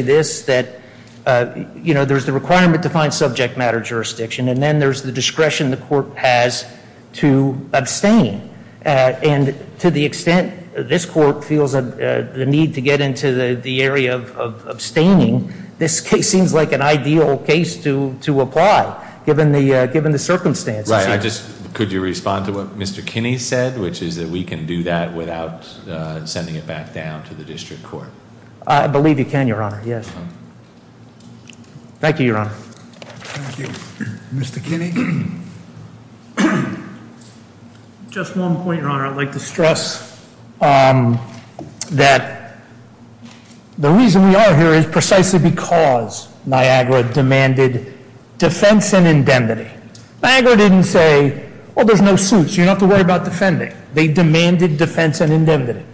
Island District Court to say this, that, you know, there's the requirement to find subject matter jurisdiction, and then there's the discretion the court has to abstain. And to the extent this court feels the need to get into the area of abstaining, this case seems like an ideal case to apply, given the circumstances. Right, I just, could you respond to what Mr. Kinney said, which is that we can do that without sending it back down to the district court? I believe you can, Your Honor, yes. Thank you, Your Honor. Thank you. Mr. Kinney? Just one point, Your Honor. I'd like to stress that the reason we are here is precisely because Niagara demanded defense and indemnity. Niagara didn't say, oh, there's no suit, so you don't have to worry about defending. They demanded defense and indemnity.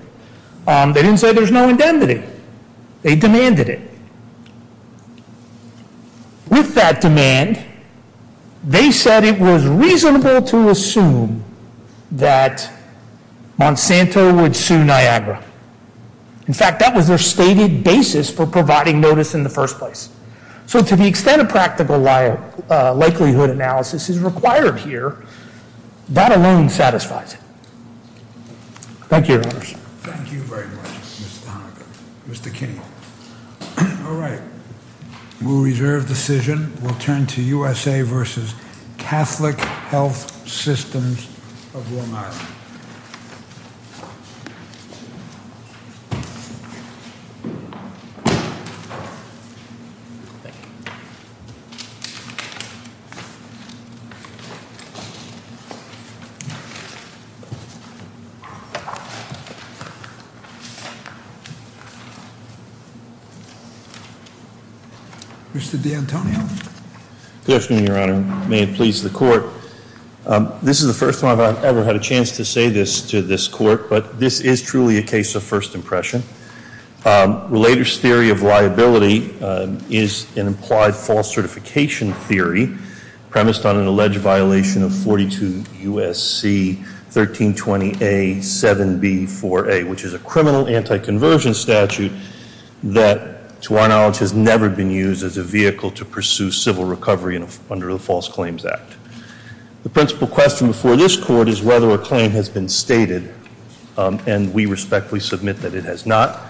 They didn't say there's no indemnity. They demanded it. With that demand, they said it was reasonable to assume that Monsanto would sue Niagara. In fact, that was their stated basis for providing notice in the first place. So to the extent a practical likelihood analysis is required here, that alone satisfies it. Thank you, Your Honors. Thank you very much, Mr. Honaker, Mr. Kinney. All right, we'll reserve decision. We'll turn to USA versus Catholic Health Systems of Long Island. Mr. D'Antonio? Good afternoon, Your Honor. May it please the court. This is the first time I've ever had a chance to say this to this court, but this is truly a case of first impression. Relator's theory of liability is an implied false certification theory premised on an alleged violation of 42 U.S.C. 1320A. 7B4A, which is a criminal anti-conversion statute that, to our knowledge, has never been used as a vehicle to pursue civil recovery under the False Claims Act. The principal question before this court is whether a claim has been stated, and we respectfully submit that it has not,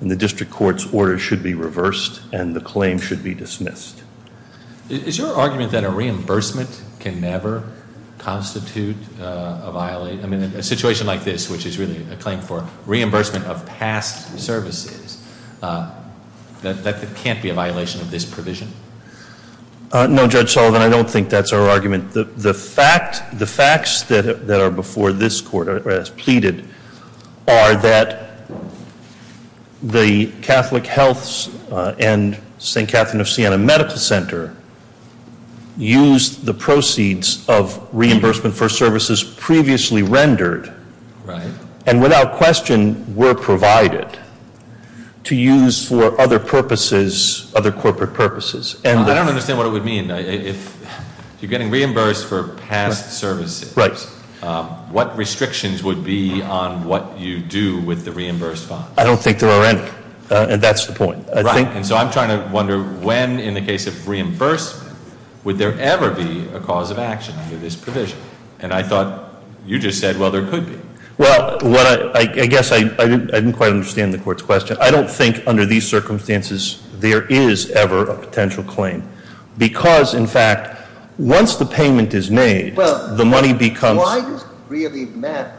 and the district court's order should be reversed and the claim should be dismissed. Is your argument that a reimbursement can never constitute a violation? I mean, in a situation like this, which is really a claim for reimbursement of past services, that it can't be a violation of this provision? No, Judge Sullivan, I don't think that's our argument. The facts that are before this court as pleaded are that the Catholic Health and St. Catherine of Siena Medical Center used the proceeds of reimbursement for services previously rendered, and without question were provided, to use for other purposes, other corporate purposes. I don't understand what it would mean. If you're getting reimbursed for past services, what restrictions would be on what you do with the reimbursed funds? I don't think there are any, and that's the point. Right, and so I'm trying to wonder when, in the case of reimbursement, would there ever be a cause of action for this provision? And I thought you just said, well, there could be. Well, I guess I didn't quite understand the court's question. I don't think under these circumstances there is ever a potential claim, because, in fact, once the payment is made, the money becomes Why does it really matter?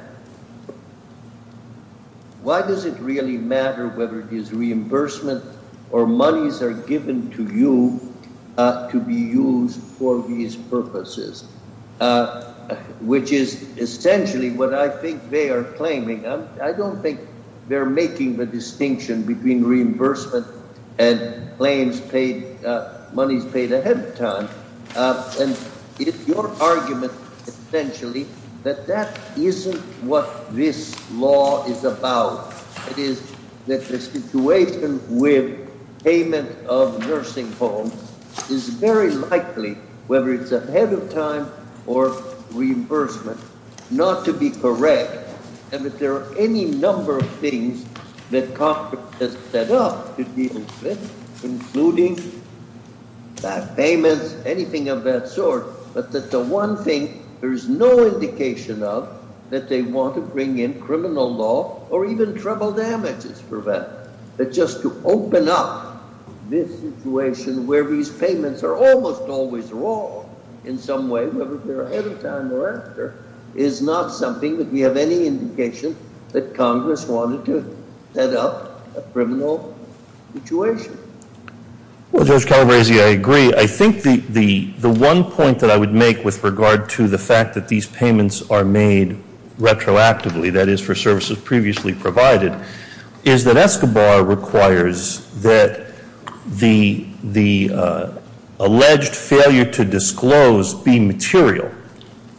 Why does it really matter whether it is reimbursement or monies are given to you to be used for these purposes? Which is essentially what I think they are claiming. I don't think they're making the distinction between reimbursement and monies paid ahead of time. And it's your argument, essentially, that that isn't what this law is about. It is that the situation with payment of nursing homes is very likely, whether it's ahead of time or reimbursement, not to be correct. And that there are any number of things that Congress has set up to deal with, including back payments, anything of that sort, but that the one thing there is no indication of, that they want to bring in criminal law or even trouble damages for that. But just to open up this situation where these payments are almost always wrong in some way, is not something that we have any indication that Congress wanted to set up a criminal situation. Well, Judge Calabresi, I agree. I think the one point that I would make with regard to the fact that these payments are made retroactively, that is for services previously provided, is that Escobar requires that the alleged failure to disclose be material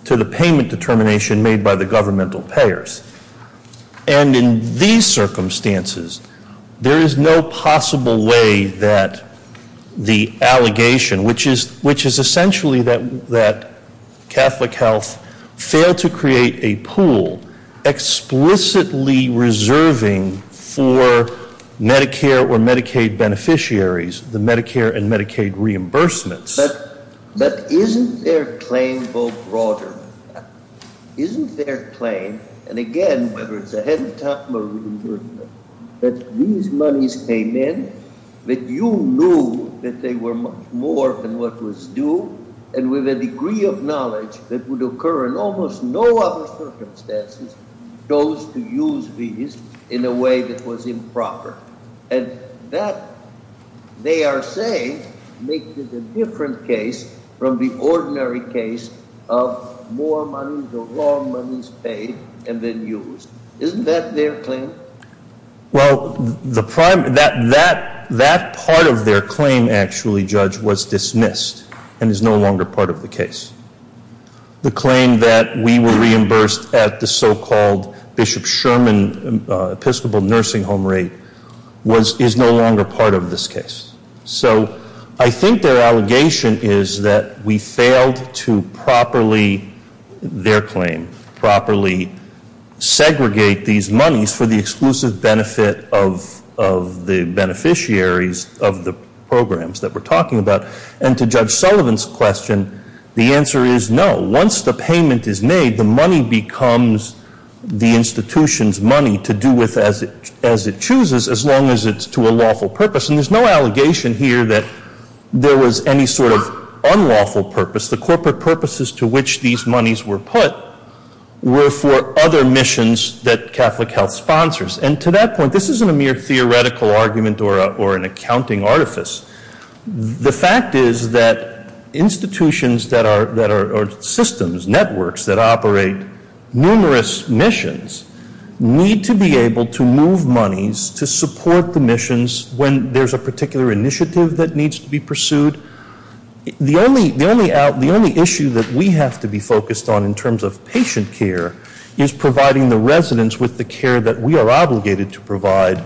to the payment determination made by the governmental payers. And in these circumstances, there is no possible way that the allegation, which is essentially that Catholic Health failed to create a pool explicitly reserving for Medicare or Medicaid beneficiaries, the Medicare and Medicaid reimbursements. But isn't their claim go broader? Isn't their claim, and again, whether it's ahead of time or reimbursement, that these monies came in, that you knew that they were much more than what was due, and with a degree of knowledge that would occur in almost no other circumstances, chose to use these in a way that was improper. And that, they are saying, makes it a different case from the ordinary case of more money, the wrong money is paid and then used. Isn't that their claim? Well, that part of their claim, actually, Judge, was dismissed and is no longer part of the case. The claim that we were reimbursed at the so-called Bishop Sherman Episcopal Nursing Home Rate is no longer part of this case. So I think their allegation is that we failed to properly, their claim, properly segregate these monies for the exclusive benefit of the beneficiaries of the programs that we're talking about. And to Judge Sullivan's question, the answer is no. Once the payment is made, the money becomes the institution's money to do with as it chooses, as long as it's to a lawful purpose. And there's no allegation here that there was any sort of unlawful purpose. The corporate purposes to which these monies were put were for other missions that Catholic Health sponsors. And to that point, this isn't a mere theoretical argument or an accounting artifice. The fact is that institutions that are systems, networks that operate numerous missions, need to be able to move monies to support the missions when there's a particular initiative that needs to be pursued. The only issue that we have to be focused on in terms of patient care is providing the residents with the care that we are obligated to provide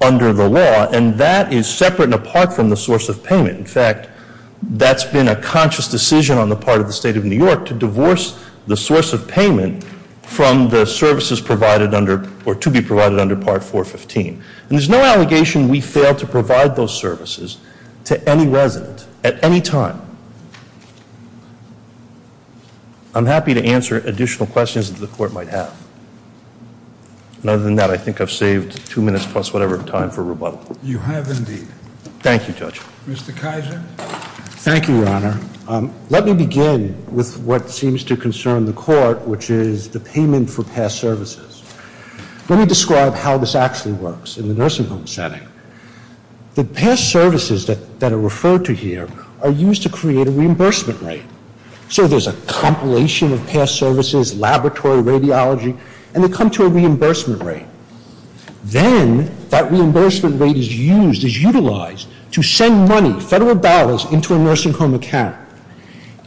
under the law. And that is separate and apart from the source of payment. In fact, that's been a conscious decision on the part of the State of New York to divorce the source of payment from the services provided under, or to be provided under Part 415. And there's no allegation we failed to provide those services to any resident at any time. I'm happy to answer additional questions that the court might have. And other than that, I think I've saved two minutes plus whatever time for rebuttal. You have indeed. Thank you, Judge. Mr. Kizer? Thank you, Your Honor. Let me begin with what seems to concern the court, which is the payment for past services. Let me describe how this actually works in the nursing home setting. The past services that are referred to here are used to create a reimbursement rate. So there's a compilation of past services, laboratory, radiology, and they come to a reimbursement rate. Then that reimbursement rate is used, is utilized to send money, federal dollars, into a nursing home account.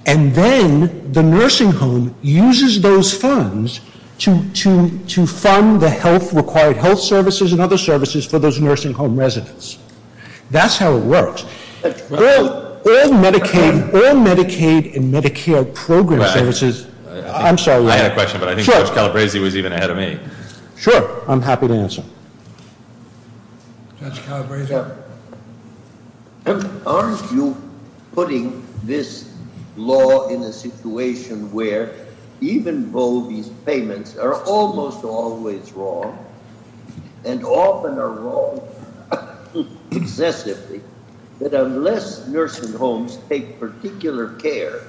And then the nursing home uses those funds to fund the health, required health services and other services for those nursing home residents. That's how it works. All Medicaid and Medicare program services. I'm sorry, Your Honor. I had a question, but I think Judge Calabresi was even ahead of me. Sure. I'm happy to answer. Judge Calabresi? Aren't you putting this law in a situation where even though these payments are almost always wrong and often are wrong excessively, that unless nursing homes take particular care,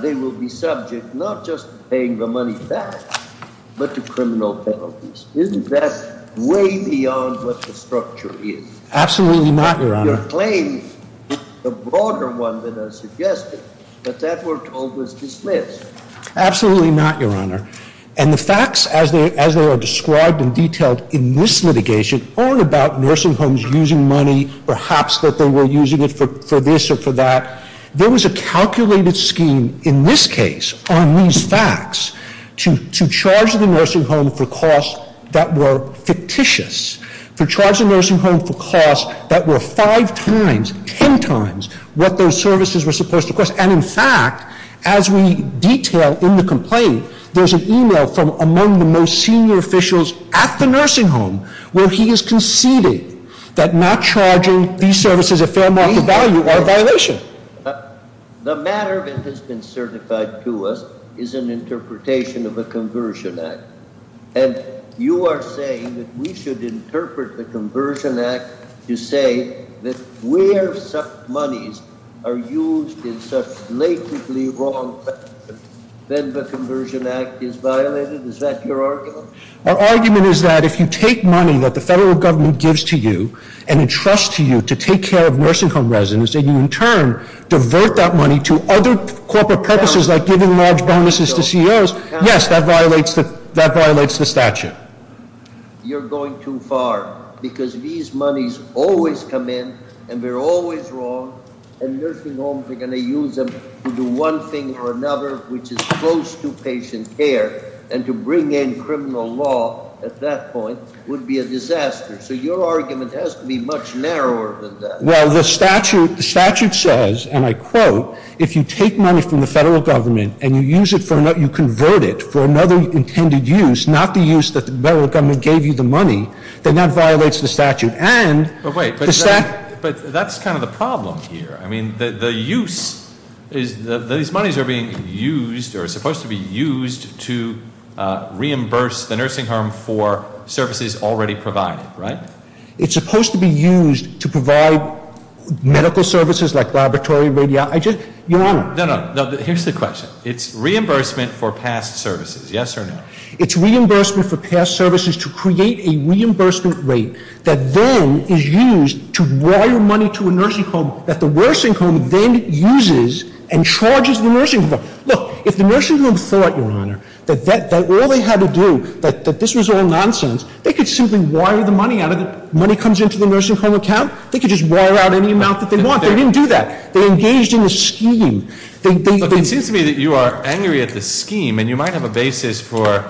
they will be subject not just to paying the money back, but to criminal penalties? Isn't that way beyond what the structure is? Absolutely not, Your Honor. You're claiming a broader one than I suggested, but that we're told was dismissed. Absolutely not, Your Honor. And the facts as they are described and detailed in this litigation aren't about nursing homes using money, perhaps that they were using it for this or for that. There was a calculated scheme in this case on these facts to charge the nursing home for costs that were fictitious, to charge the nursing home for costs that were five times, ten times what those services were supposed to cost. And, in fact, as we detail in the complaint, there's an email from among the most senior officials at the nursing home where he has conceded that not charging these services a fair market value are a violation. The matter that has been certified to us is an interpretation of the Conversion Act. And you are saying that we should interpret the Conversion Act to say that where such monies are used in such blatantly wrong factors, then the Conversion Act is violated? Is that your argument? Our argument is that if you take money that the federal government gives to you and entrust to you to take care of nursing home residents, and you in turn divert that money to other corporate purposes like giving large bonuses to CEOs, yes, that violates the statute. You're going too far, because these monies always come in and they're always wrong, and nursing homes are going to use them to do one thing or another which is close to patient care, and to bring in criminal law at that point would be a disaster. So your argument has to be much narrower than that. Well, the statute says, and I quote, if you take money from the federal government and you convert it for another intended use, not the use that the federal government gave you the money, then that violates the statute. But wait. But that's kind of the problem here. I mean, the use is that these monies are being used or are supposed to be used to reimburse the nursing home for services already provided, right? It's supposed to be used to provide medical services like laboratory, radiology. Your Honor. No, no. Here's the question. It's reimbursement for past services, yes or no? It's reimbursement for past services to create a reimbursement rate that then is used to wire money to a nursing home that the nursing home then uses and charges the nursing home. Look, if the nursing home thought, Your Honor, that all they had to do, that this was all nonsense, they could simply wire the money out of it. Money comes into the nursing home account. They could just wire out any amount that they want. They didn't do that. They engaged in the scheme. It seems to me that you are angry at the scheme. And you might have a basis for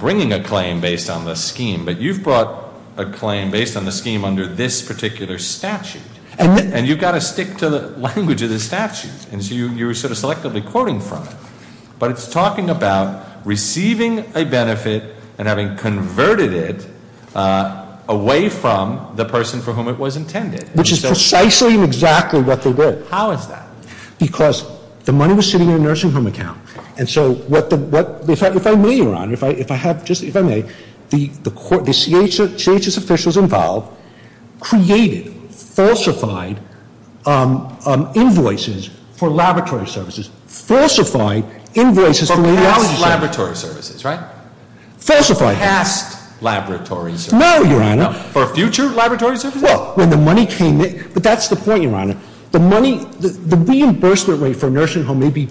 bringing a claim based on the scheme. But you've brought a claim based on the scheme under this particular statute. And you've got to stick to the language of the statute. And so you were sort of selectively quoting from it. But it's talking about receiving a benefit and having converted it away from the person for whom it was intended. Which is precisely and exactly what they did. How is that? Because the money was sitting in a nursing home account. And so if I may, Your Honor, if I may, the CHS officials involved created falsified invoices for laboratory services. Falsified invoices for radiology services. For past laboratory services, right? Falsified. For past laboratory services. No, Your Honor. For future laboratory services? Well, when the money came in, but that's the point, Your Honor. The money, the reimbursement rate for a nursing home may be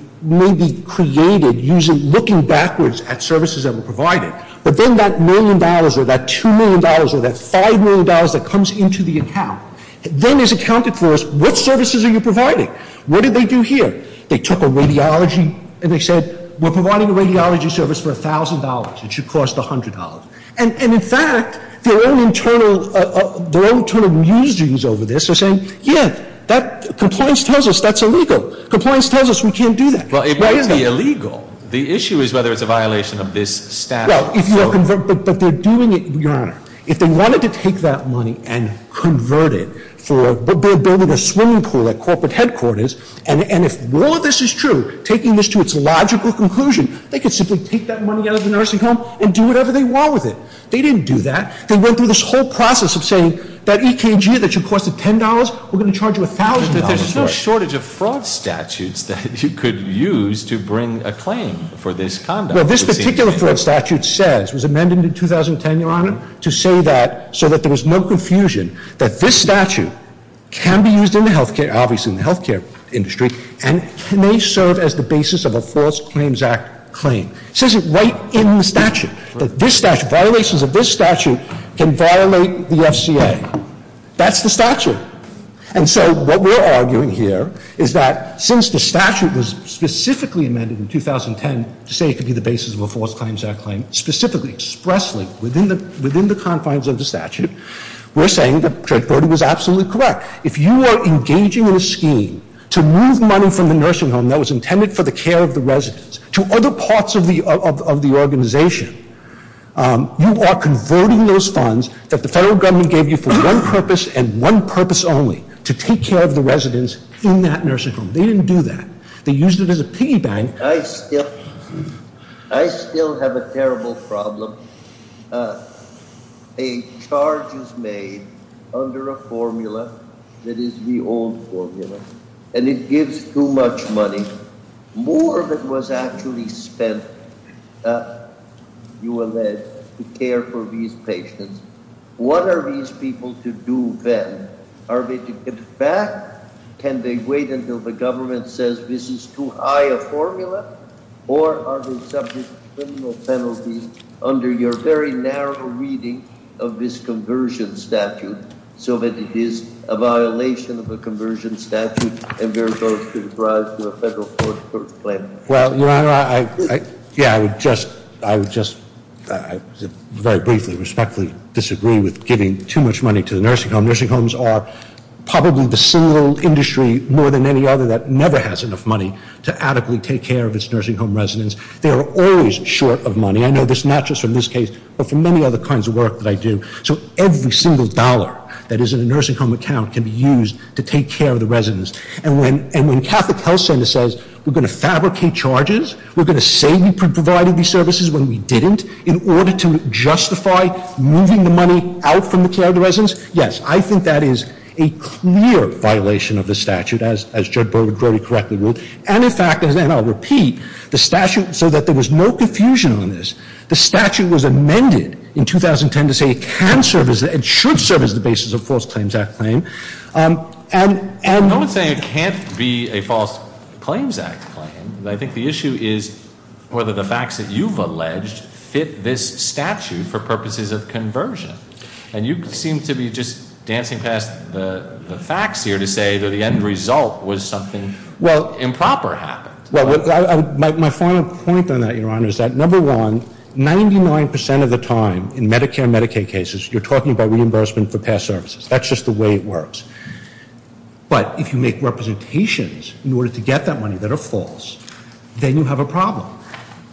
created looking backwards at services that were provided. But then that million dollars or that $2 million or that $5 million that comes into the account. Then is accounted for as which services are you providing? What did they do here? They took a radiology, and they said, we're providing a radiology service for $1,000. It should cost $100. And in fact, their own internal musings over this are saying, yeah, that compliance tells us that's illegal. Compliance tells us we can't do that. Well, it may be illegal. The issue is whether it's a violation of this statute. Well, but they're doing it, Your Honor. If they wanted to take that money and convert it for building a swimming pool at corporate headquarters, and if all of this is true, taking this to its logical conclusion, they could simply take that money out of the nursing home and do whatever they want with it. They didn't do that. They went through this whole process of saying that EKG that should cost $10, we're going to charge you $1,000 for it. But there's no shortage of fraud statutes that you could use to bring a claim for this conduct. Well, this particular fraud statute says, was amended in 2010, Your Honor, to say that, so that there was no confusion, that this statute can be used in the health care, obviously in the health care industry, and may serve as the basis of a False Claims Act claim. It says it right in the statute, that this statute, violations of this statute can violate the FCA. That's the statute. And so what we're arguing here is that since the statute was specifically amended in 2010 to say it could be the basis of a False Claims Act claim, specifically, expressly, within the confines of the statute, we're saying that Judge Brody was absolutely correct. If you are engaging in a scheme to move money from the nursing home that was intended for the care of the residents to other parts of the organization, you are converting those funds that the federal government gave you for one purpose and one purpose only, to take care of the residents in that nursing home. They didn't do that. They used it as a piggy bank. I still have a terrible problem. A charge is made under a formula that is the old formula, and it gives too much money, more than was actually spent, you allege, to care for these patients. What are these people to do then? Are they to give back? Can they wait until the government says this is too high a formula? Or are they subject to criminal penalties under your very narrow reading of this conversion statute so that it is a violation of a conversion statute and therefore should be brought to a federal court for a claim? Well, Your Honor, I would just very briefly respectfully disagree with giving too much money to the nursing home. Nursing homes are probably the single industry, more than any other, that never has enough money to adequately take care of its nursing home residents. They are always short of money. I know this not just from this case, but from many other kinds of work that I do. So every single dollar that is in a nursing home account can be used to take care of the residents. And when Catholic Health Center says we're going to fabricate charges, we're going to say we provided these services when we didn't, because, yes, I think that is a clear violation of the statute, as Judge Brody correctly ruled. And, in fact, and I'll repeat, the statute, so that there was no confusion on this, the statute was amended in 2010 to say it should serve as the basis of a False Claims Act claim. I'm not saying it can't be a False Claims Act claim. I think the issue is whether the facts that you've alleged fit this statute for purposes of conversion. And you seem to be just dancing past the facts here to say that the end result was something improper happened. Well, my final point on that, Your Honor, is that, number one, 99 percent of the time in Medicare and Medicaid cases, you're talking about reimbursement for past services. That's just the way it works. But if you make representations in order to get that money that are false, then you have a problem.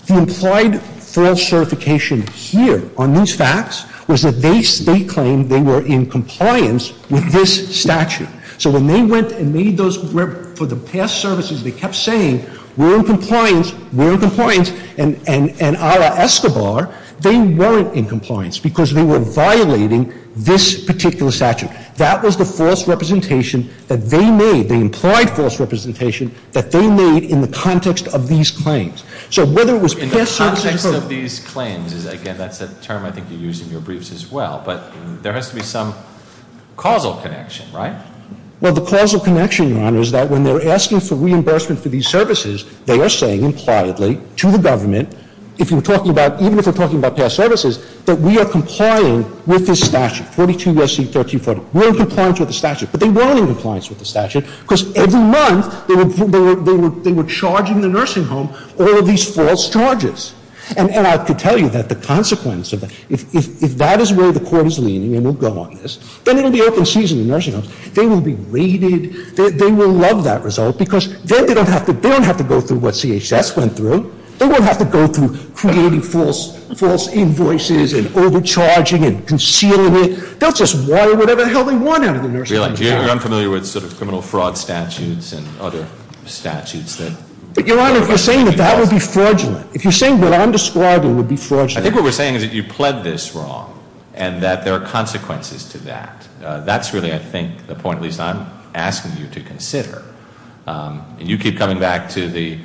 The implied false certification here on these facts was that they claimed they were in compliance with this statute. So when they went and made those for the past services, they kept saying we're in compliance, we're in compliance, and a la Escobar, they weren't in compliance because they were violating this particular statute. That was the false representation that they made, the implied false representation that they made in the context of these claims. So whether it was past services or- In the context of these claims, again, that's a term I think you used in your briefs as well, but there has to be some causal connection, right? Well, the causal connection, Your Honor, is that when they're asking for reimbursement for these services, they are saying impliedly to the government, if you're talking about, even if they're talking about past services, that we are complying with this statute, 42 U.S.C. 1340. We're in compliance with the statute, but they weren't in compliance with the statute because every month they were charging the nursing home all of these false charges. And I could tell you that the consequence of that, if that is where the court is leaning, and we'll go on this, then it will be open season in nursing homes. They will be rated. They will love that result because then they don't have to go through what CHS went through. They won't have to go through creating false invoices and overcharging and concealing it. They'll just wire whatever the hell they want out of the nursing home. You're unfamiliar with sort of criminal fraud statutes and other statutes that- But, Your Honor, you're saying that that would be fraudulent. If you're saying what I'm describing would be fraudulent- I think what we're saying is that you pled this wrong and that there are consequences to that. That's really, I think, the point at least I'm asking you to consider. And you keep coming back to the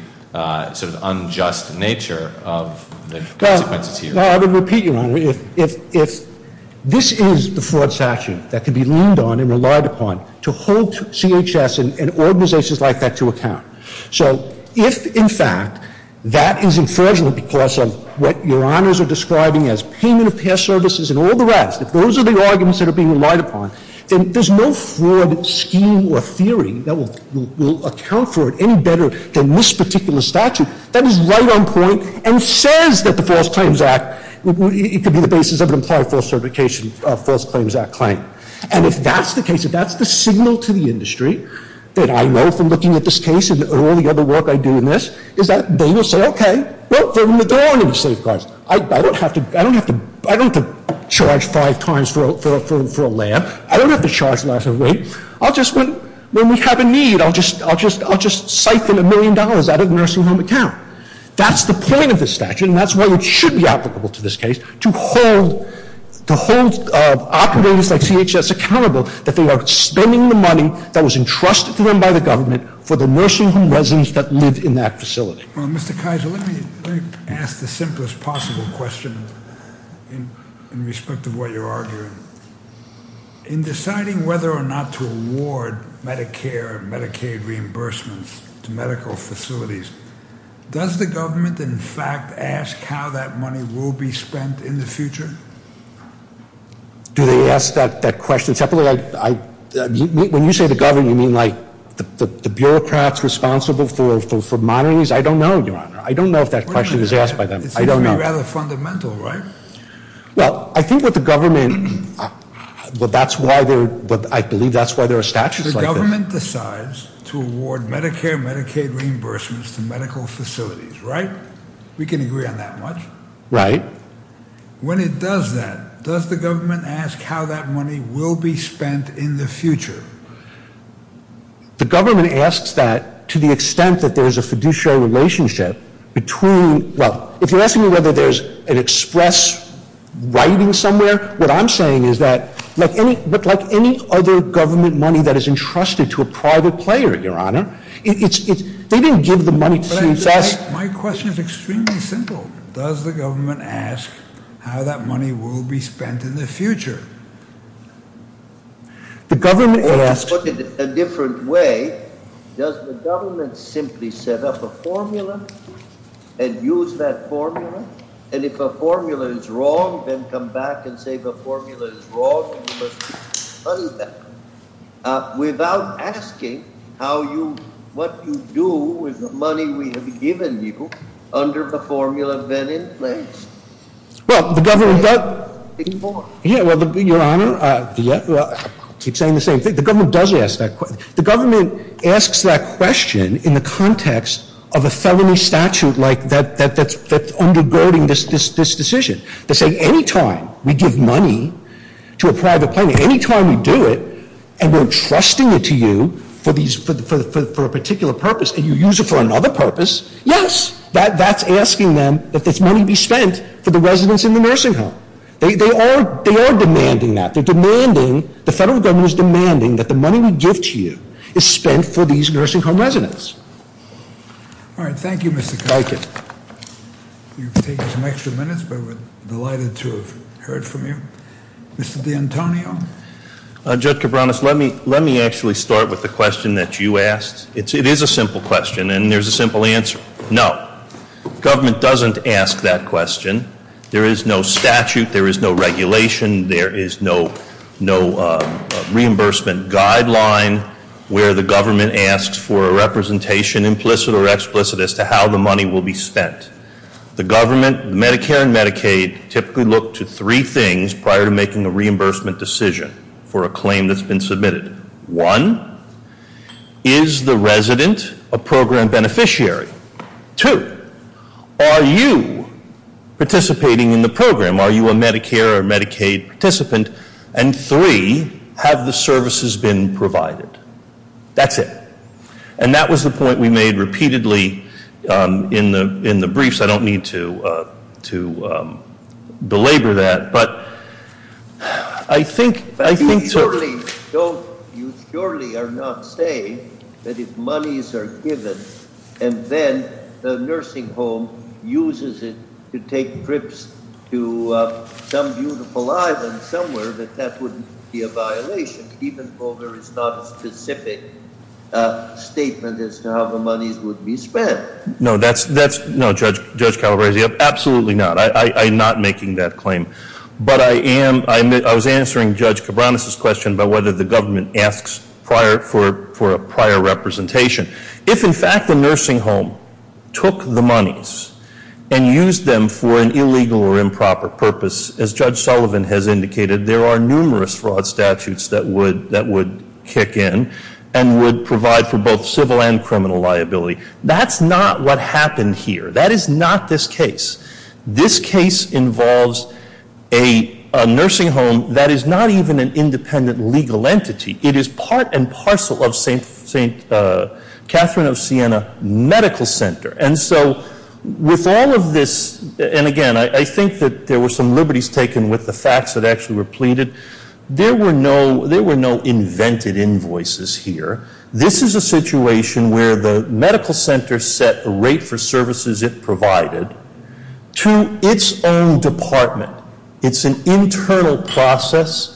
sort of unjust nature of the consequences here. Well, I would repeat, Your Honor, if this is the fraud statute that could be leaned on and relied upon to hold CHS and organizations like that to account. So if, in fact, that is fraudulent because of what Your Honors are describing as payment of care services and all the rest, if those are the arguments that are being relied upon, then there's no fraud scheme or theory that will account for it any better than this particular statute that is right on point and says that the False Claims Act- It could be the basis of an implied false certification False Claims Act claim. And if that's the case, if that's the signal to the industry that I know from looking at this case and all the other work I do in this, is that they will say, Okay, well, there aren't any safeguards. I don't have to charge five times for a lab. I don't have to charge a lot of weight. When we have a need, I'll just siphon a million dollars out of the nursing home account. That's the point of this statute, and that's why it should be applicable to this case, to hold operators like CHS accountable that they are spending the money that was entrusted to them by the government for the nursing home residents that live in that facility. Well, Mr. Kaiser, let me ask the simplest possible question in respect to what you're arguing. In deciding whether or not to award Medicare and Medicaid reimbursements to medical facilities, does the government, in fact, ask how that money will be spent in the future? Do they ask that question separately? When you say the government, you mean like the bureaucrats responsible for monies? I don't know, Your Honor. I don't know if that question is asked by them. I don't know. It would be rather fundamental, right? Well, I think that the government, I believe that's why there are statutes like this. The government decides to award Medicare and Medicaid reimbursements to medical facilities, right? We can agree on that much. Right. When it does that, does the government ask how that money will be spent in the future? The government asks that to the extent that there's a fiduciary relationship between, well, if you're asking me whether there's an express writing somewhere, what I'm saying is that, like any other government money that is entrusted to a private player, Your Honor, they didn't give the money to the U.S. My question is extremely simple. Does the government ask how that money will be spent in the future? The government asks. Let me put it a different way. Does the government simply set up a formula and use that formula? And if a formula is wrong, then come back and say the formula is wrong and you must refund that without asking how you, what you do with the money we have given you under the formula then in place? Well, the government does. Yeah, well, Your Honor, I keep saying the same thing. The government does ask that question. The government asks that question in the context of a felony statute that's undergirding this decision. They say any time we give money to a private player, any time we do it, and we're entrusting it to you for a particular purpose and you use it for another purpose, yes, that's asking them that this money be spent for the residents in the nursing home. They are demanding that. They're demanding, the federal government is demanding that the money we give to you is spent for these nursing home residents. All right, thank you, Mr. Cabranes. Thank you. You've taken some extra minutes, but we're delighted to have heard from you. Mr. D'Antonio? Judge Cabranes, let me actually start with the question that you asked. It is a simple question and there's a simple answer. No, government doesn't ask that question. There is no statute, there is no regulation, there is no reimbursement guideline where the government asks for a representation, implicit or explicit, as to how the money will be spent. The government, Medicare and Medicaid, typically look to three things prior to making a reimbursement decision for a claim that's been submitted. One, is the resident a program beneficiary? Two, are you participating in the program? Are you a Medicare or Medicaid participant? And three, have the services been provided? That's it. And that was the point we made repeatedly in the briefs. I don't need to belabor that. You surely are not saying that if monies are given and then the nursing home uses it to take trips to some beautiful island somewhere, that that would be a violation, even though there is not a specific statement as to how the monies would be spent. No, Judge Calabresi, absolutely not. I'm not making that claim. But I was answering Judge Cabranes' question about whether the government asks for a prior representation. If, in fact, the nursing home took the monies and used them for an illegal or improper purpose, as Judge Sullivan has indicated, there are numerous fraud statutes that would kick in and would provide for both civil and criminal liability. That's not what happened here. That is not this case. This case involves a nursing home that is not even an independent legal entity. It is part and parcel of St. Catherine of Siena Medical Center. And so with all of this, and again, I think that there were some liberties taken with the facts that actually were pleaded. There were no invented invoices here. This is a situation where the medical center set a rate for services it provided to its own department. It's an internal process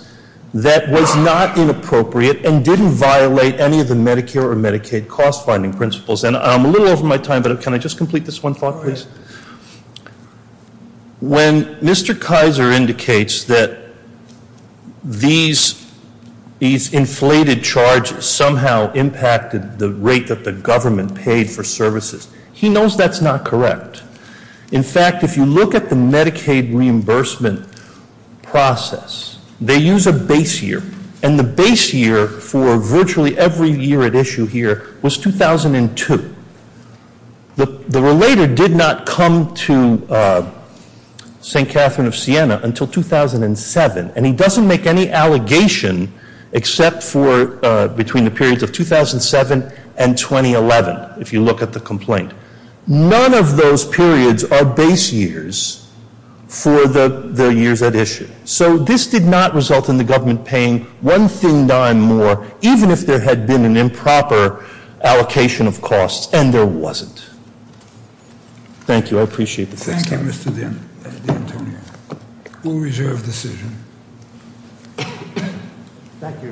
that was not inappropriate and didn't violate any of the Medicare or Medicaid cost-finding principles. And I'm a little over my time, but can I just complete this one thought, please? When Mr. Kaiser indicates that these inflated charges somehow impacted the rate that the government paid for services, he knows that's not correct. In fact, if you look at the Medicaid reimbursement process, they use a base year, and the base year for virtually every year at issue here was 2002. The relator did not come to St. Catherine of Siena until 2007, and he doesn't make any allegation except for between the periods of 2007 and 2011, if you look at the complaint. None of those periods are base years for the years at issue. So this did not result in the government paying one thing dime more, even if there had been an improper allocation of costs, and there wasn't. Thank you. I appreciate the time. Thank you, Mr. D'Antonio. We'll reserve the decision. Thank you.